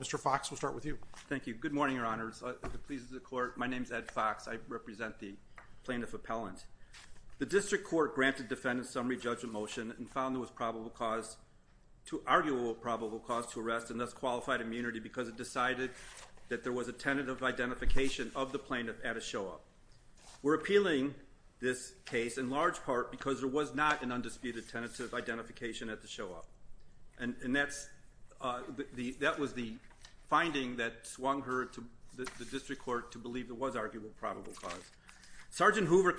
Mr. Fox, we'll start with you. Thank you. Good morning, Your Honors. It pleases the Court. My name is Ed Fox. I represent the Plaintiff Appellant. The District Court granted the Defendant's Summary Judgment Motion and found there was arguable probable cause to arrest and thus qualified immunity because it decided that there was a tentative identification of the plaintiff at a show-up. We're appealing this case in large part because there was not an undisputed tentative identification at the show-up. And that was the finding that swung her to the District Court to believe there was arguable probable cause. Sergeant Hoover, in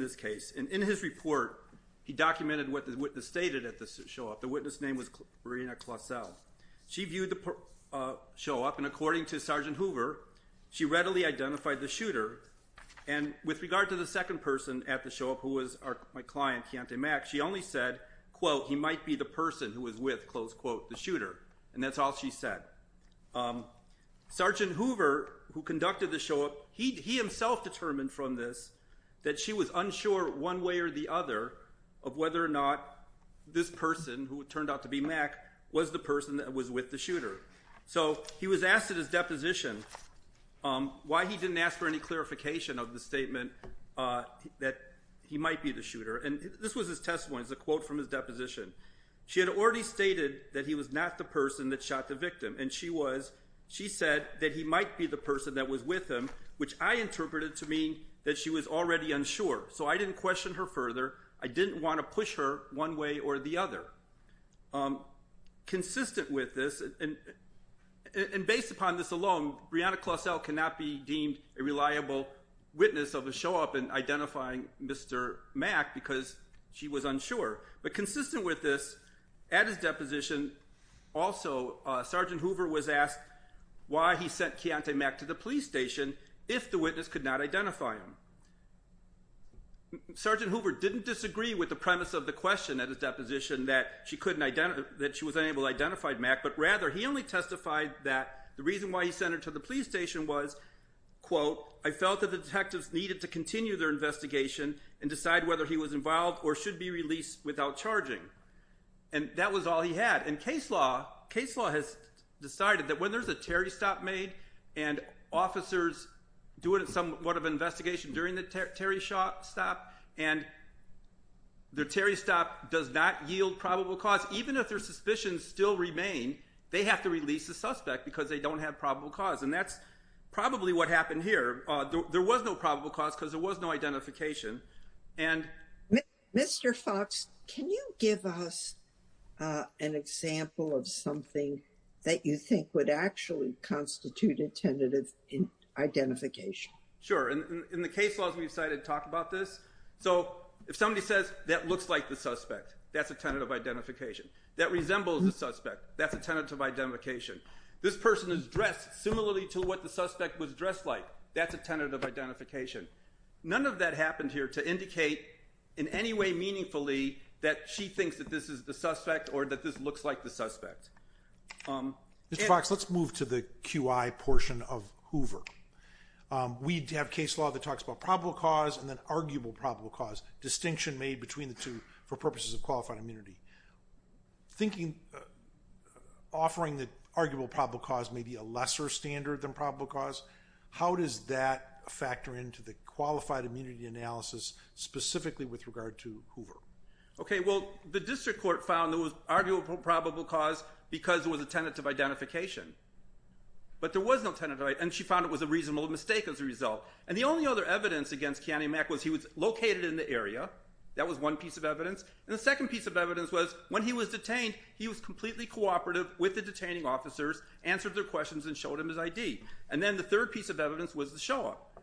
this case, in his report, he documented what the witness stated at the show-up. The witness' name was Marina Clausell. She viewed the show-up, and according to Sergeant Hoover, she readily identified the shooter. And with regard to the second person at the show-up who was my client, Kiontae Mack, she only said, quote, he might be the person who was with, close quote, the shooter. And that's all she said. Sergeant Hoover, who conducted the show-up, he himself determined from this that she was unsure one way or the other of whether or not this person, who turned out to be Mack, was the person that was with the shooter. So he was asked at his deposition why he didn't ask for any clarification of the statement that he might be the shooter. And this was his testimony. It's a quote from his deposition. She had already stated that he was not the person that shot the victim. And she said that he might be the person that was with him, which I interpreted to mean that she was already unsure. So I didn't question her further. I didn't want to push her one way or the other. Consistent with this, and based upon this alone, Brianna Clausell cannot be deemed a reliable witness of a show-up in identifying Mr. Mack because she was unsure. But consistent with this, at his deposition also, Sergeant Hoover was asked why he sent Keontae Mack to the police station if the witness could not identify him. Sergeant Hoover didn't disagree with the premise of the question at his deposition that she was unable to identify Mack, but rather he only testified that the reason why he sent her to the police station was, quote, I felt that the detectives needed to continue their investigation and decide whether he was involved or should be released without charging. And that was all he had. And case law has decided that when there's a Terry stop made and officers do somewhat of an investigation during the Terry stop, and the Terry stop does not yield probable cause, even if their suspicions still remain, they have to release the suspect because they don't have probable cause. And that's probably what happened here. There was no probable cause because there was no identification. And Mr. Fox, can you give us an example of something that you think would actually constitute a tentative identification? Sure. And in the case laws, we decided to talk about this. So if somebody says that looks like the suspect, that's a tentative identification that resembles the suspect. That's a tentative identification. This person is dressed similarly to what the suspect was dressed like. That's a tentative identification. None of that happened here to indicate in any way meaningfully that she thinks that this is the suspect or that this looks like the suspect. Mr. Fox, let's move to the QI portion of Hoover. We have case law that talks about probable cause and then arguable probable cause distinction made between the two for purposes of qualified immunity. Offering the arguable probable cause may be a lesser standard than probable cause. How does that factor into the qualified immunity analysis specifically with regard to Hoover? Okay. Well, the district court found there was arguable probable cause because it was a tentative identification. But there was no tentative identification and she found it was a reasonable mistake as a result. And the only other evidence against Keanu Mac was he was located in the area. That was one piece of evidence. And the second piece of evidence was when he was detained, he was completely cooperative with the detaining officers, answered their questions, and showed them his ID. And then the third piece of evidence was the show-up.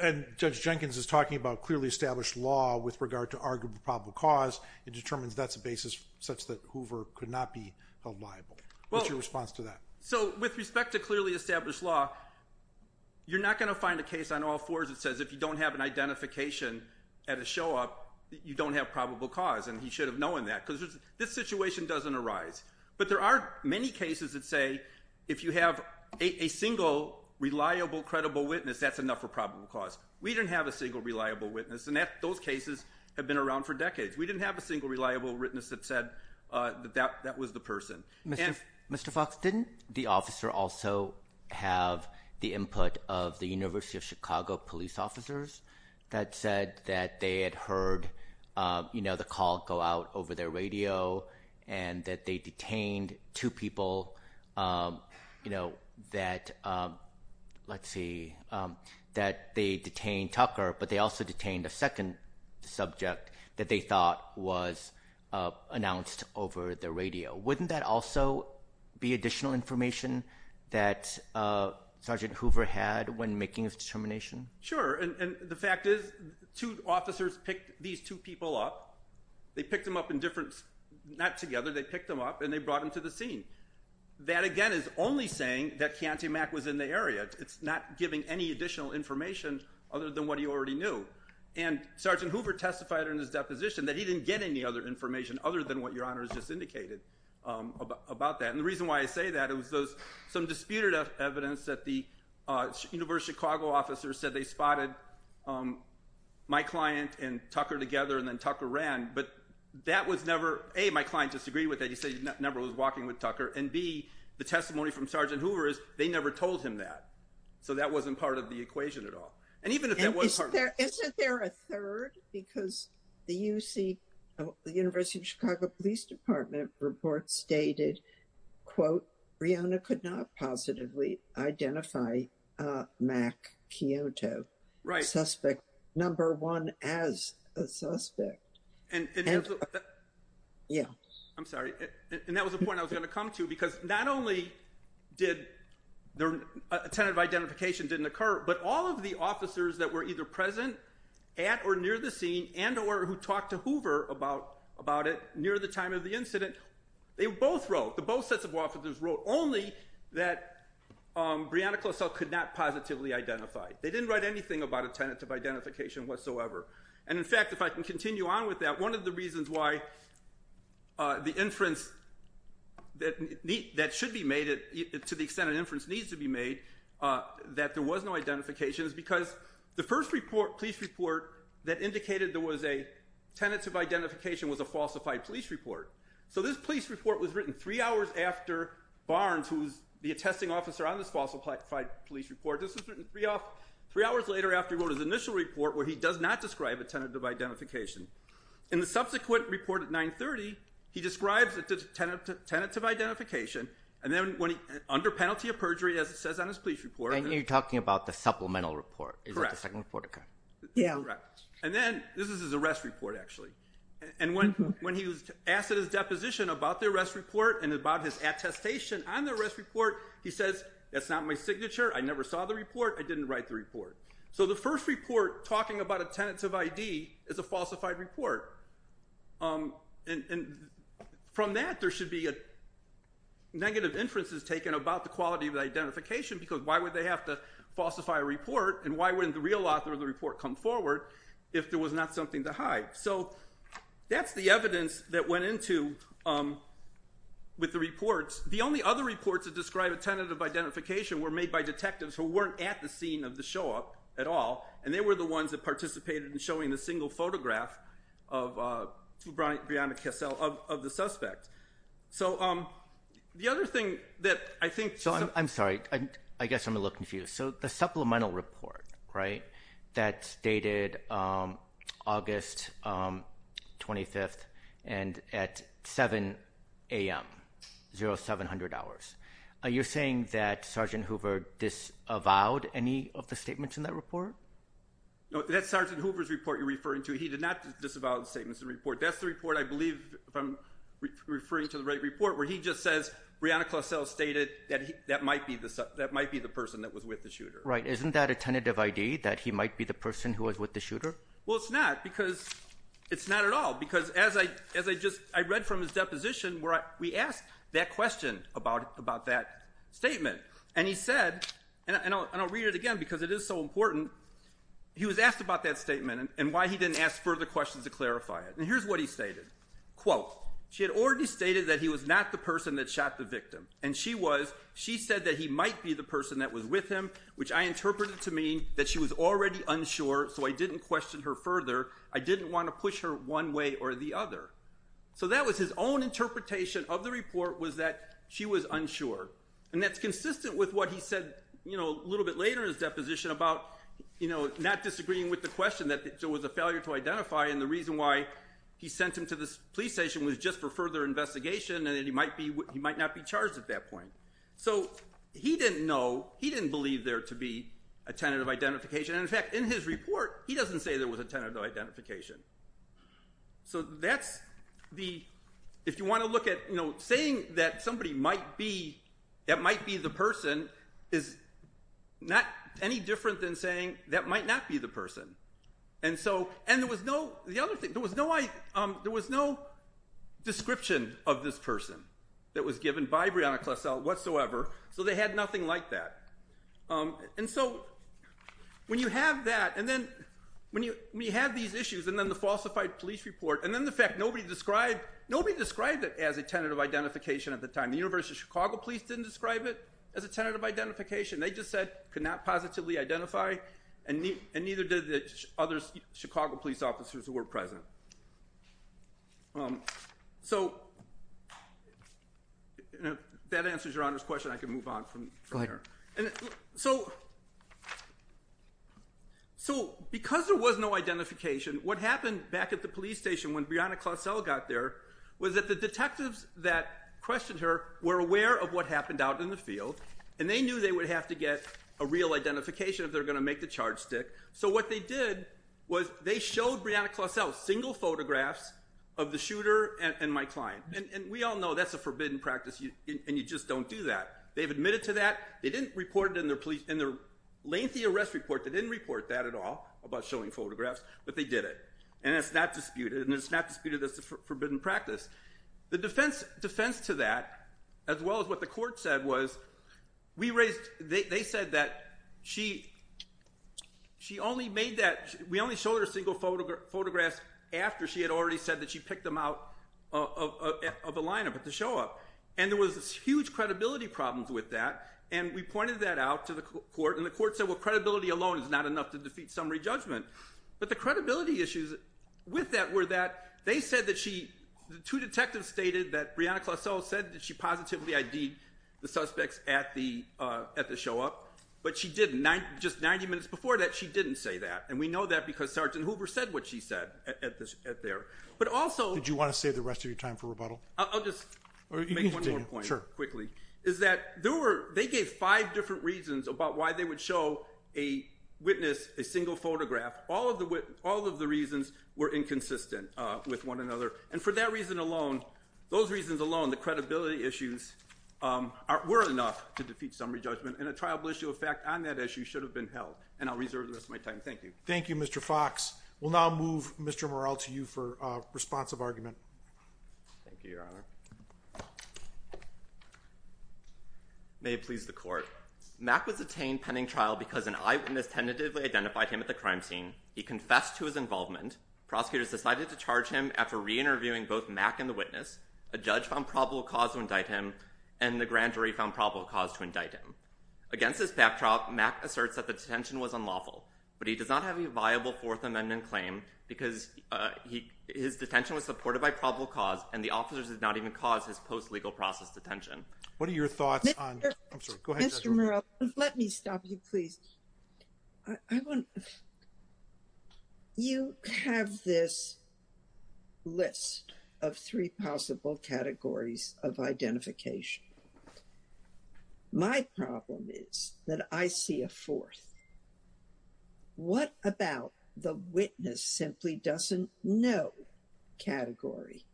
And Judge Jenkins is talking about clearly established law with regard to arguable probable cause. It determines that's a basis such that Hoover could not be held liable. What's your response to that? So with respect to clearly established law, you're not going to find a case on all fours that says if you don't have an identification at a show-up, you don't have probable cause. And he should have known that because this situation doesn't arise. But there are many cases that say if you have a single reliable, credible witness, that's enough for probable cause. We didn't have a single reliable witness and those cases have been around for decades. We didn't have a single reliable witness that said that that was the person. Mr. Fox, didn't the officer also have the input of the University of Chicago police officers that said that they had heard, you know, the call go out over their radio and that they detained two people, you know, that, let's see, that they detained Tucker, but they also detained a second subject that they thought was announced over the radio. Wouldn't that also be additional information that Sergeant Hoover had when making his determination? Sure. And the fact is two officers picked these two people up. They picked them up in different, not together, they picked them up and they brought them to the scene. That again is only saying that Keontae Mack was in the area. It's not giving any additional information other than what he already knew. And Sergeant Hoover testified in his deposition that he didn't get any other information other than what Your Honor has just indicated about that. And the reason why I say that is some disputed evidence that the University of Chicago officers said they spotted my client and Tucker together and then Tucker ran, but that was never, A, my client disagreed with that. He said he never was walking with Tucker and B, the testimony from Sergeant Hoover is they never told him that. So that wasn't part of the equation at all. And even if that wasn't part of the equation. Isn't there a third? Because the UC, the University of Chicago Police Department report stated quote, Breonna could not positively identify Mack Keontae, suspect number one as a suspect. Yeah, I'm sorry. And that was the point I was going to come to because not only did their tentative identification didn't occur, but all of the officers that were either present at or near the scene and or who talked to Hoover about it near the time of the incident, they both wrote, the both sets of officers wrote only that Breonna Klosel could not positively identify. They didn't write anything about a tentative identification whatsoever. And the inference that should be made, to the extent an inference needs to be made, that there was no identification is because the first report, police report that indicated there was a tentative identification was a falsified police report. So this police report was written three hours after Barnes, who's the attesting officer on this falsified police report. This was written three hours later after he wrote his initial report where he does not describe a tentative identification. In the subsequent report at 930, he describes a tentative identification. And then when he, under penalty of perjury, as it says on his police report. And you're talking about the supplemental report. Correct. Is that the second report? Yeah. Correct. And then this is his arrest report actually. And when he was asked at his deposition about the arrest report and about his attestation on the arrest report, he says, that's not my signature. I never saw the report. I didn't write the report. So the first report talking about a tentative ID is a falsified report. And from that, there should be negative inferences taken about the quality of the identification because why would they have to falsify a report and why wouldn't the real author of the report come forward if there was not something to hide? So that's the evidence that went into with the reports. The only other reports that describe a tentative identification were made by detectives who weren't at the scene of the show up at all. And they were the ones that participated in showing the single photograph of Brianna Kessel, of the suspect. So the other thing that I think... I'm sorry. I guess I'm a little confused. So the supplemental report, right? That's dated August 25th and at 7 a.m. 0700 hours. You're saying that Sergeant Hoover disavowed any of the statements in that report? No, that's Sergeant Hoover's report you're referring to. He did not disavow the statements in the report. That's the report, I believe, if I'm referring to the right report, where he just says, Brianna Kessel stated that might be the person that was with the shooter. Right. Isn't that a tentative ID that he might be the person who was with the shooter? Well, it's not because... It's not at all because as I just... I read from his deposition where we asked that question about that statement. And he said, and I'll read it again because it is so important. He was asked about that statement and why he didn't ask further questions to clarify it. And here's what he stated. Quote, she had already stated that he was not the person that shot the victim. And she said that he might be the person that was with him, which I interpreted to mean that she was already unsure, so I didn't question her further. I didn't want to push her one way or the other. So that was his own interpretation of the report was that she was unsure. And that's consistent with what he said a little bit later in his deposition about not disagreeing with the question that there was a failure to identify and the reason why he sent him to this police station was just for further investigation and that he might not be charged at that point. So he didn't know, he didn't believe there to be a tentative identification. And in fact, in his report, he doesn't say there was a tentative identification. So that's the, if you want to look at, you know, saying that somebody might be, that might be the person is not any different than saying that might not be the person. And so, and there was no, the other thing, there was no, there was no description of this person that was given by Breonna Klessel whatsoever. So they had nothing like that. And so when you have that and then when you have these issues and then the falsified police report and then the fact nobody described, nobody described it as a tentative identification at the time. The University of Chicago police didn't describe it as a tentative identification. They just said could not positively identify and neither did the other Chicago police officers who were present. So that answers your Honor's question. I can move on from there. And so, so because there was no identification, what happened back at the police station when Breonna Klessel got there was that the detectives that questioned her were aware of what happened out in the field and they knew they would have to get a real identification if they're going to make the charge stick. So what they did was they showed Breonna Klessel single photographs of the shooter and my client. And we all know that's a forbidden practice and you just don't do that. They've admitted to that. They didn't report it in their lengthy arrest report. They didn't report that at all about showing photographs, but they did it. And it's not disputed and it's not disputed as a forbidden practice. The defense to that as well as what the court said was we raised, they said that she, she only made that, we only showed her single photographs after she had already said that she picked them out of a lineup at the show up. And there was this huge credibility problems with that. And we pointed that out to the court and the court said, well, credibility alone is not enough to defeat summary judgment. But the credibility issues with that were that they said that she, the two detectives stated that Breonna Klessel said that she positively ID'd the suspects at the, uh, at the show up, but she didn't. Just 90 minutes before that, she didn't say that. And we know that because Sergeant Hoover said what she said at this, at there. But also, did you want to save the rest of your time for rebuttal? I'll just make one more point quickly is that there were, they gave five different reasons about why they would show a witness a single photograph. All of the, all of the reasons were inconsistent, uh, with one another. And for that reason alone, those reasons alone, the credibility issues, um, are, were enough to defeat summary judgment and a triable issue of fact on that issue should have been held. And I'll reserve the rest of my time. Thank you. Thank you, Mr. Fox. We'll now move Mr. Morrell to you for a responsive argument. Thank you, Your Honor. May it please the court. Mack was detained pending trial because an officer found probable cause to indict him. Prosecutors decided to charge him after re-interviewing both Mack and the witness. A judge found probable cause to indict him and the grand jury found probable cause to indict him. Against this backdrop, Mack asserts that the detention was unlawful, but he does not have a viable fourth amendment claim because, uh, he, his detention was supported by probable cause and the officers did not even cause his post legal process detention. What are your thoughts on, I'm sorry, go ahead. Mr. Morrell, let me stop you, please. I want, you have this list of three possible categories of identification. My problem is that I see a fourth. What about the witness simply doesn't know category.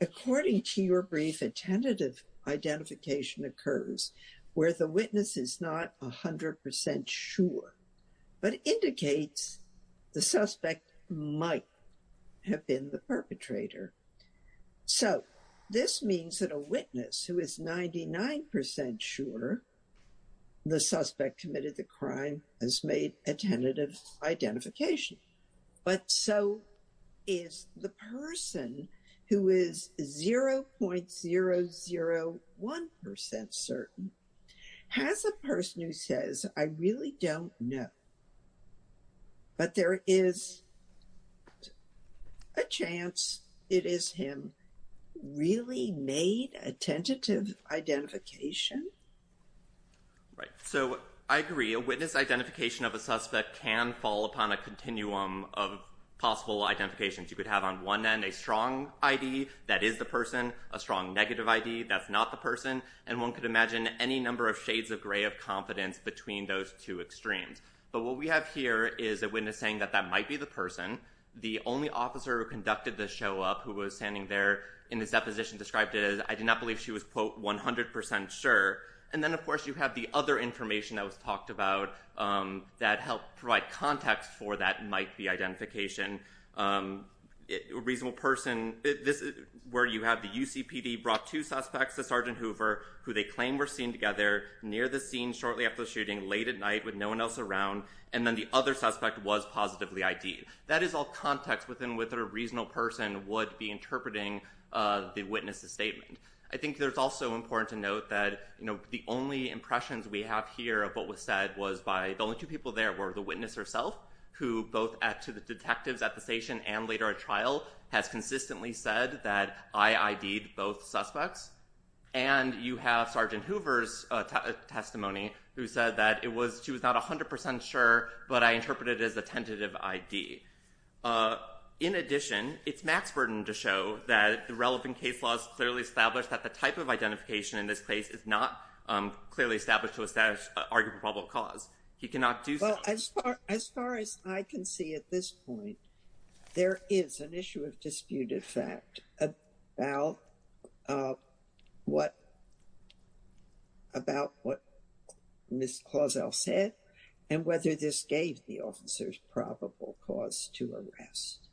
According to your brief, a tentative identification occurs where the witness is not a hundred percent sure, but indicates the suspect might have been the perpetrator. So this means that a witness who is 99% sure the suspect committed the crime has made a tentative identification. But so is the person who is 0.001% certain has a person who says, I really don't know, but there is a chance it is him really made a tentative identification. Right. So I agree. A witness identification of a suspect can fall upon a continuum of possible identifications. You could have on one end, a strong ID that is the person, a strong negative ID that's not the person. And one could imagine any number of shades of gray of confidence between those two extremes. But what we have here is a witness saying that that might be the person. The only officer who conducted this show up, who was standing there in this deposition described it as, I did not believe she was quote 100% sure. And then of course you have the other information that was talked about, um, that helped provide context for that might be identification. Um, reasonable person where you have the UCPD brought two suspects to Sergeant Hoover who they claim were seen together near the scene shortly after the shooting late at night with no one else around. And then the other suspect was positively ID. That is all context within with a reasonable person would be interpreting, uh, the witnesses statement. I think there's also important to note that, you know, the only impressions we have here of what was said was by the only two people there were the witness herself, who both at to the detectives at the station and later at trial has consistently said that I ID'd both suspects. And you have Sergeant Hoover's testimony who said that it was, she was not 100% sure, but I interpreted it as a tentative ID. Uh, in addition, it's Max Burton to show that the relevant case laws clearly established that the type of identification in this case is not, um, clearly established to establish argument, probable cause he cannot do. As far as I can see at this point, there is an issue of disputed fact about, uh, what, about what Ms. Clausell said and whether this gave the officers probable cause to arrest.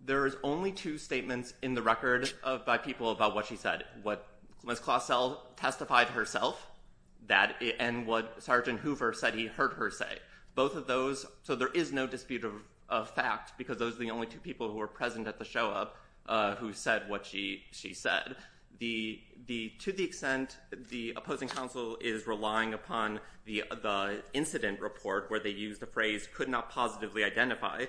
There is only two statements in the record of by people about what she said, what Ms. Clausell testified herself that it, and what Sergeant Hoover said, he heard her say both of those. So there is no dispute of, of fact, because those are the only two people who were present at the show up, uh, who said what she, she said the, the, to the extent the opposing counsel is relying upon the, the incident report where they use the phrase could not positively identify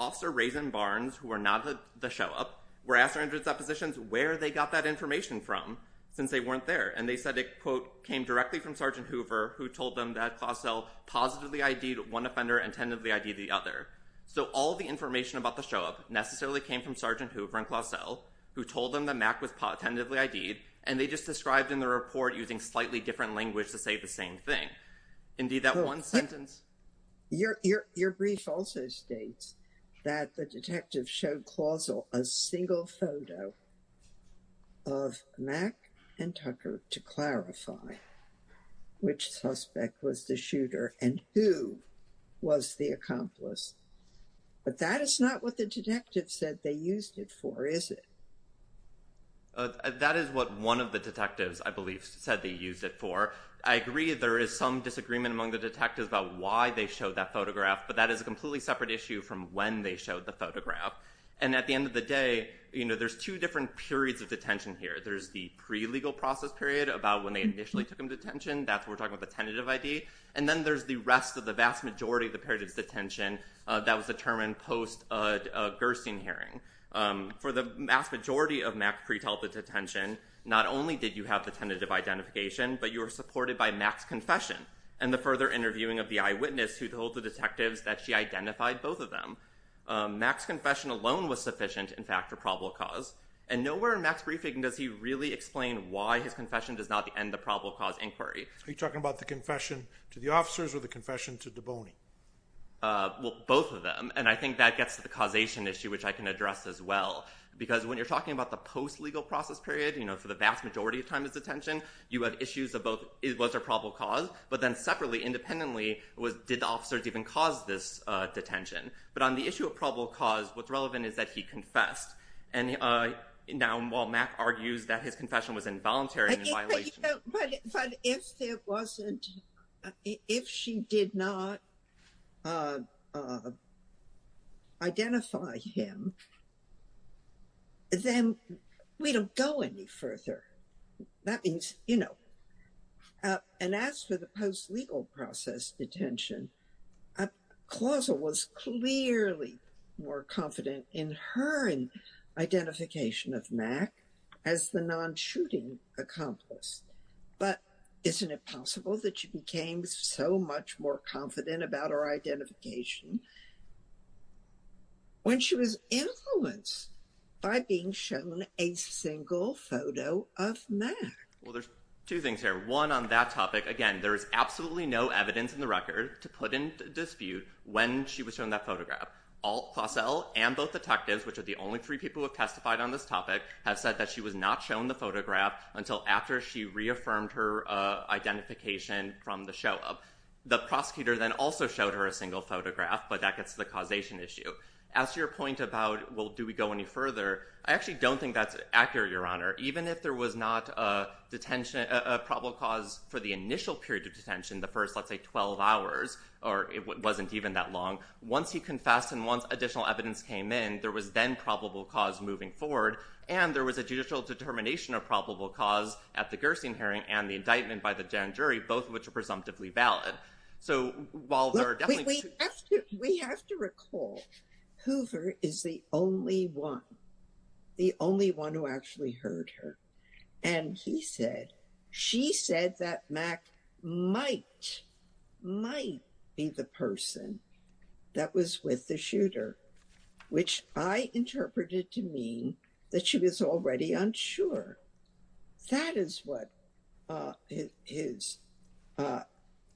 officer Raisin Barnes, who are not the show up. We're asking hundreds of positions where they got that information from since they weren't there. And they said it quote, came directly from Sergeant Hoover who told them that Clausell positively ID to one offender and tentatively ID the other. So all the information about the show up necessarily came from Sergeant Hoover and Clausell who told them the Mac was pot tentatively ID. And they just described in the report using slightly different language to say the same thing. Indeed, that one sentence, your, your, your brief also states that the detective showed Clausell a single photo of Mac and Tucker to clarify which suspect was the shooter and who was the accomplice. But that is not what the detective said they used it for, is it? That is what one of the detectives I believe said they used it for. I agree there is some disagreement among the detectives about why they showed that photograph, but that is a completely separate issue from when they showed the photograph. And at the end of the day, you know, there's two different periods of detention here. There's the pre-legal process period about when they initially took him to detention. That's, we're talking about the tentative ID. And then there's the rest of the vast majority of the period of detention that was determined post Gerstein hearing. For the vast majority of Mac's pre-tentative detention, not only did you have the tentative identification, but you were supported by Mac's confession and the further interviewing of the eyewitness who told the detectives that she identified both of them. Mac's confession alone was sufficient, in fact, for probable cause. And nowhere in Mac's briefing does he really explain why his confession does not end the probable cause inquiry. Are you talking about the confession to the officers or the confession to DeBone? Well, both of them. And I think that gets to the causation issue, which I can address as well. Because when you're talking about the post-legal process period, you know, for the vast majority of time of detention, you have issues of both, was there probable cause? But then separately, independently, did the officers even cause this detention? But on the issue of probable cause, what's relevant is that he confessed. And now while Mac argues that his confession was involuntary and in violation. But if it wasn't, if she did not identify him, then we don't go any further. That means, you know, and as for the post-legal process detention, Clausal was clearly more confident in her identification of Mac as the shooting accomplished. But isn't it possible that she became so much more confident about her identification when she was influenced by being shown a single photo of Mac? Well, there's two things here. One, on that topic, again, there is absolutely no evidence in the record to put in dispute when she was shown that photograph. All, Clausal and both detectives, which are the only three people who have testified on this topic, have said that she was not shown the photograph until after she reaffirmed her identification from the show-up. The prosecutor then also showed her a single photograph, but that gets to the causation issue. As to your point about, well, do we go any further? I actually don't think that's accurate, Your Honor. Even if there was not a probable cause for the initial period of detention, the first, let's say, 12 hours, or it wasn't even that long, once he confessed and once additional evidence came in, there was then probable cause moving forward. And there was a judicial determination of probable cause at the Gerstein hearing and the indictment by the Jan jury, both of which are presumptively valid. So, while there are definitely two- We have to recall, Hoover is the only one, the only one who actually heard her. And he said, she said that Mac might, might be the person that was with the shooter, which I interpreted to mean that she was already unsure. That is what his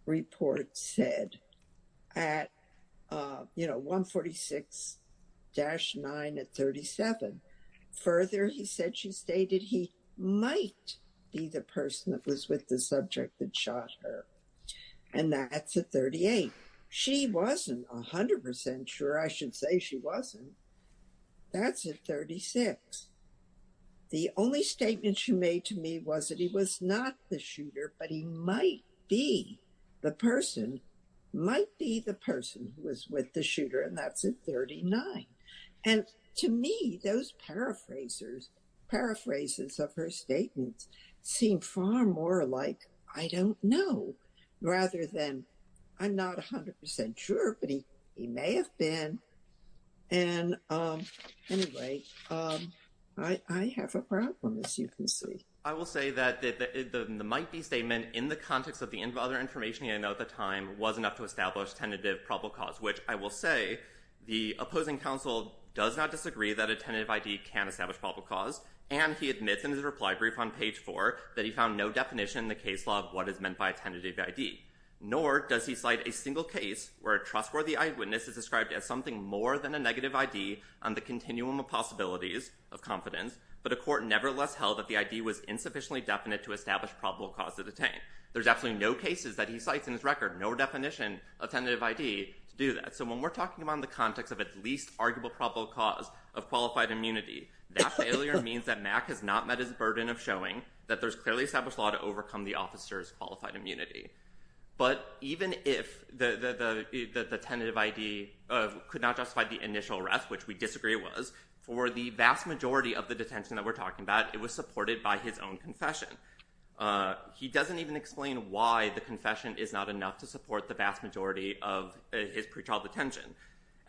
report said at 146-9 at 37. Further, he said, she stated he might be the person that was with the subject that shot her. And that's at 38. She wasn't 100% sure. I should say she wasn't. That's at 36. The only statement she made to me was that he was not the shooter, but he might be the person, might be the person who was with the shooter. And that's at 39. And to me, those paraphrasers, paraphrases of her statements seem far more like, I don't know, rather than I'm not 100% sure, but he may have been. And anyway, I have a problem, as you can see. I will say that the might be statement in the context of the other information he had at the time was enough to establish tentative probable cause, which I will say the opposing counsel does not disagree that a tentative ID can establish probable cause. And he admits in his reply brief on page four that he found no definition in the case law of what is meant by tentative ID. Nor does he cite a single case where a trustworthy eyewitness is described as something more than a negative ID on the continuum of possibilities of confidence, but a court nevertheless held that the ID was insufficiently definite to establish probable cause to detain. There's absolutely no cases that he cites in his record, no definition of tentative ID to do that. So when we're talking about the context of least arguable probable cause of qualified immunity, that failure means that Mack has not met his burden of showing that there's clearly established law to overcome the officer's qualified immunity. But even if the tentative ID could not justify the initial arrest, which we disagree was, for the vast majority of the detention that we're talking about, it was supported by his own confession. He doesn't even explain why the confession is not enough to support the vast majority of his pretrial detention.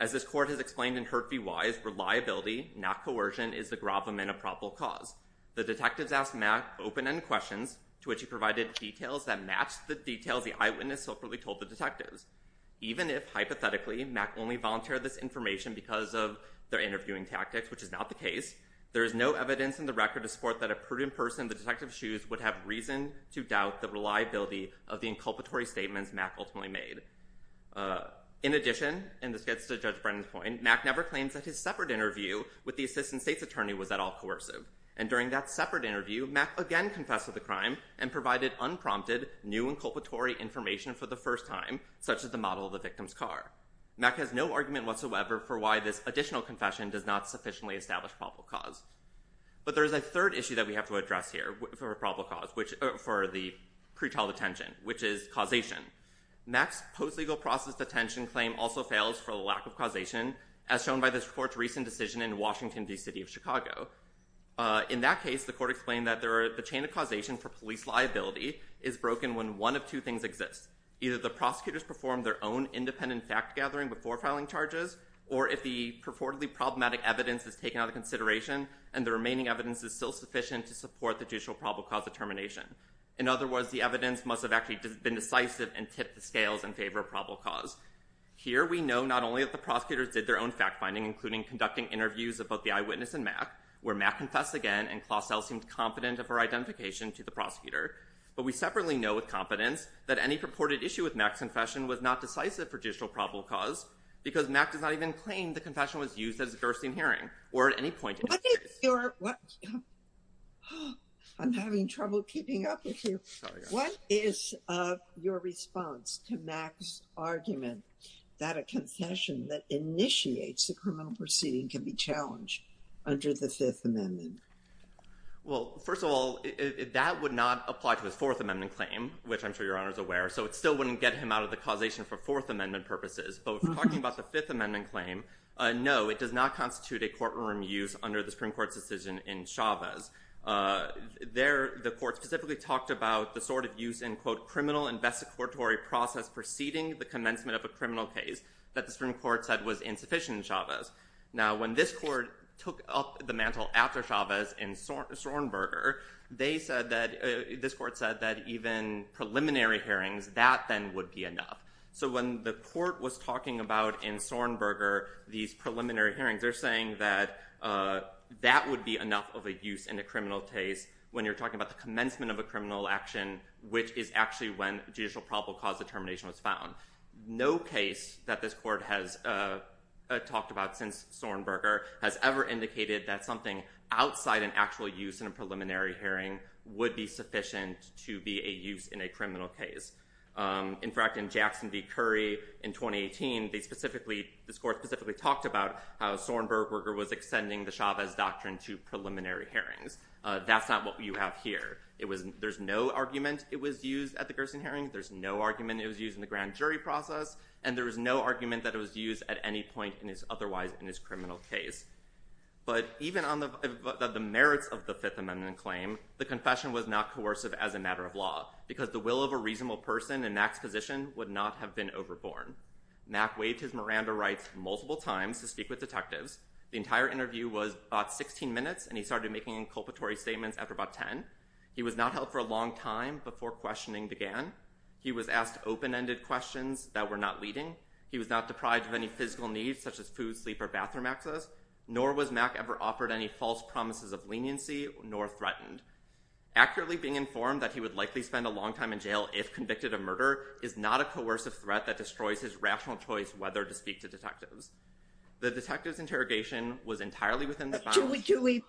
As this court has explained in Hert v. Wise, reliability, not coercion, is the gravamen of probable cause. The detectives asked Mack open-ended questions to which he provided details that matched the details the eyewitness separately told the detectives. Even if, hypothetically, Mack only volunteered this information because of their interviewing tactics, which is not the case, there is no evidence in the record to support that a prudent person in the detective's shoes would have reason to doubt the reliability of the inculpatory statements Mack ultimately made. In addition, and this gets to Judge Brennan's point, Mack never claims that his separate interview with the assistant state's attorney was at all coercive. And during that separate interview, Mack again confessed to the crime and provided unprompted new inculpatory information for the first time, such as the model of the victim's car. Mack has no argument whatsoever for why this additional confession does not sufficiently establish probable cause. But there is a third issue that we have to address here for probable cause, for the pretrial detention, which is causation. Mack's post-legal process detention claim also fails for the lack of causation, as shown by this court's recent decision in Washington v. City of Chicago. In that case, the court explained that the chain of causation for police liability is broken when one of two things exists. Either the prosecutors perform their own independent fact-gathering before filing charges, or if the purportedly problematic evidence is taken out of consideration and the remaining evidence is still sufficient to support the judicial probable cause determination. In other words, the evidence must have actually been decisive and tipped the scales in favor of probable cause. Here, we know not only that the prosecutors did their own fact-finding, including conducting interviews of both the eyewitness and Mack, where Mack confessed again, and Klaus L seemed confident of her identification to the prosecutor. But we separately know with confidence that any purported issue with Mack's confession was not decisive for judicial probable cause, because Mack does not even claim the confession was used as a Gerstein hearing, or at any point in the case. What is your... I'm having trouble keeping up with you. What is your response to Mack's argument that a concession that initiates the criminal proceeding can be challenged under the Fifth Amendment? Well, first of all, that would not apply to his Fourth Amendment claim, which I'm sure Your Honor is aware, so it still wouldn't get him out of the causation for Fourth Amendment purposes. But if we're talking about the Fifth Amendment claim, no, it does not constitute a courtroom use under the Supreme Court's decision in Chavez. There, the Court specifically talked about the sort of use in, quote, criminal investigatory process preceding the commencement of a criminal case that the Supreme Court said was insufficient in Chavez. Now, when this Court took up the mantle after Chavez in Sornberger, this Court said that even preliminary hearings, that then would be enough. So when the Court was talking about in Sornberger these preliminary hearings, they're saying that that would be enough of a use in a criminal case when you're talking about the commencement of a criminal action, which is actually when judicial probable cause determination was found. No case that this Court has talked about since Sornberger has ever indicated that something outside an actual use in a preliminary hearing would be sufficient to be a use in a criminal case. In fact, in Jackson v. Curry in 2018, they specifically, this Court specifically talked about how Sornberger was extending the Chavez doctrine to preliminary hearings. That's not what you have here. It was, there's no argument it was used at the Gerson hearings, there's no argument it was used in the grand jury process, and there was no argument that it was used at any point in his, otherwise in his criminal case. But even on the merits of the Fifth Amendment claim, the confession was not coercive as a matter of law, because the will of a reasonable person in Mack's position would not have been overborne. Mack waived his Miranda rights multiple times to speak with detectives. The entire interview was about 16 minutes, and he started making inculpatory statements after about 10. He was not held for a long time before questioning began. He was asked open-ended questions that were not leading. He was not deprived of any physical needs, such as food, sleep, or bathroom access, nor was Mack ever offered any false promises of leniency, nor threatened. Accurately being informed that he would likely spend a long time in jail if convicted of murder is not a coercive threat that destroys his rational choice whether to speak to detectives. The detectives' interrogation was entirely within the bounds. Do we, do we,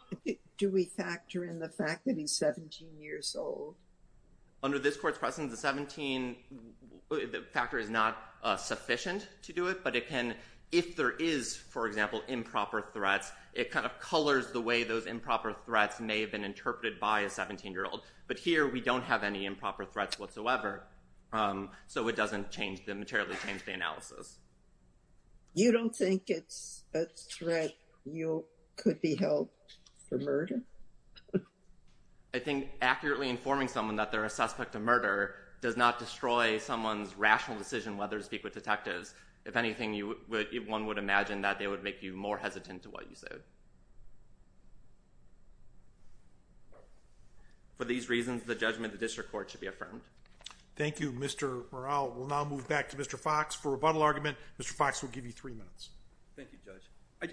do we factor in the fact that he's 17 years old? Under this Court's precedence, the 17, the factor is not sufficient to do it, but it can, if there is, for example, improper threats, it kind of colors the way those improper threats may have been interpreted by a 17-year-old. But here, we don't have any improper threats whatsoever, so it doesn't change the, materially change the analysis. You don't think it's a threat you could be held for murder? I think accurately informing someone that they're a suspect of murder does not destroy someone's rational decision whether to speak with detectives. If anything, you would, one would imagine that they would make you more hesitant to what you said. For these reasons, the judgment of the District Court should be affirmed. Thank you, Mr. Morrell. We'll now move back to Mr. Fox for a rebuttal argument. Mr. Fox will give you three minutes. Thank you, Judge.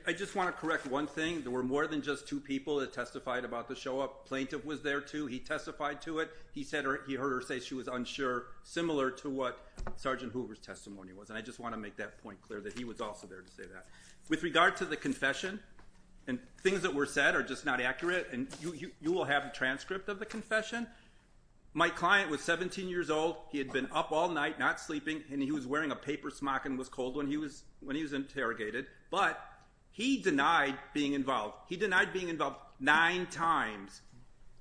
I just want to correct one thing. There were more than just two people that testified about the show-up. Plaintiff was there, too. He testified to it. He said, he heard her say she was unsure, similar to what Sergeant Hoover's testimony was. And I want to make that point clear, that he was also there to say that. With regard to the confession, and things that were said are just not accurate, and you will have a transcript of the confession. My client was 17-years-old. He had been up all night, not sleeping, and he was wearing a paper smock and was cold when he was interrogated. But he denied being involved. He denied being involved nine times.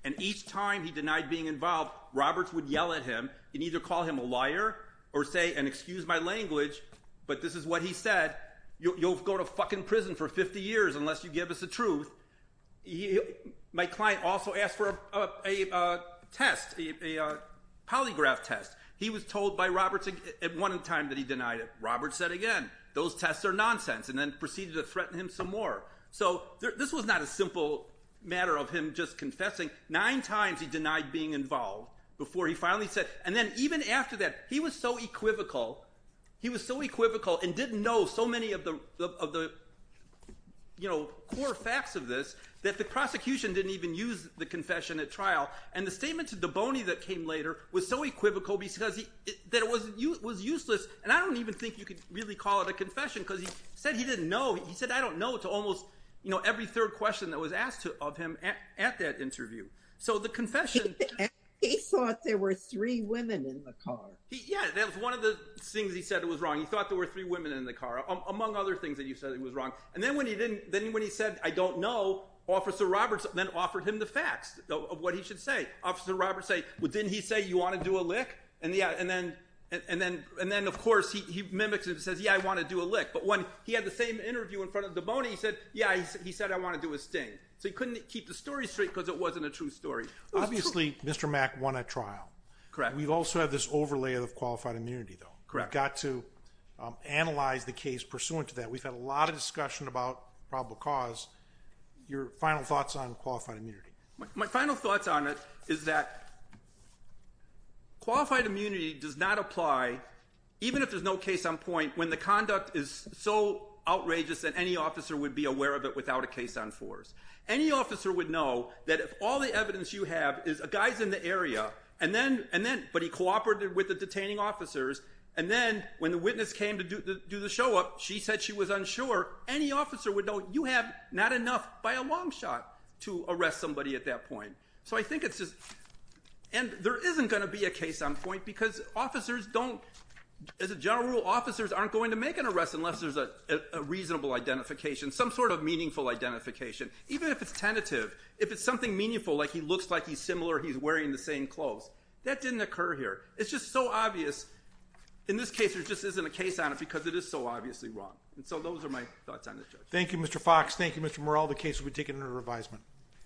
And each time he denied being involved, Roberts would yell at him and either call him a or say, and excuse my language, but this is what he said. You'll go to fucking prison for 50 years unless you give us the truth. My client also asked for a test, a polygraph test. He was told by Roberts at one time that he denied it. Roberts said again, those tests are nonsense, and then proceeded to threaten him some more. So this was not a simple matter of him just confessing. Nine times. He was so equivocal, and didn't know so many of the core facts of this, that the prosecution didn't even use the confession at trial. And the statement to Daboney that came later was so equivocal that it was useless. And I don't even think you could really call it a confession, because he said he didn't know. He said, I don't know, to almost every third question that was asked of him at that interview. So the confession- He thought there were three women in the car. Yeah, that was one of the things he said was wrong. He thought there were three women in the car, among other things that he said was wrong. And then when he said, I don't know, Officer Roberts then offered him the facts of what he should say. Officer Roberts said, didn't he say, you want to do a lick? And then of course, he mimics it and says, yeah, I want to do a lick. But when he had the same interview in front of Daboney, he said, yeah, he said, I want to do a sting. So he couldn't keep the story straight because it wasn't a true story. Obviously, Mr. Mack won at trial. Correct. We've also had this overlay of qualified immunity, though. Correct. We got to analyze the case pursuant to that. We've had a lot of discussion about probable cause. Your final thoughts on qualified immunity? My final thoughts on it is that qualified immunity does not apply, even if there's no case on point, when the conduct is so outrageous that any officer would be aware of it without a case on force. Any officer would know that if all the evidence you have is a guy's in the area, but he cooperated with the detaining officers, and then when the witness came to do the show up, she said she was unsure, any officer would know you have not enough by a long shot to arrest somebody at that point. And there isn't going to be a case on point because, as a general rule, officers aren't going to make an arrest unless there's a reasonable identification, some sort of meaningful identification. Even if it's something meaningful, like he looks like he's similar, he's wearing the same clothes, that didn't occur here. It's just so obvious. In this case, there just isn't a case on it because it is so obviously wrong. And so those are my thoughts on it, Judge. Thank you, Mr. Fox. Thank you, Mr. Morrell. The case will be taken under revisement.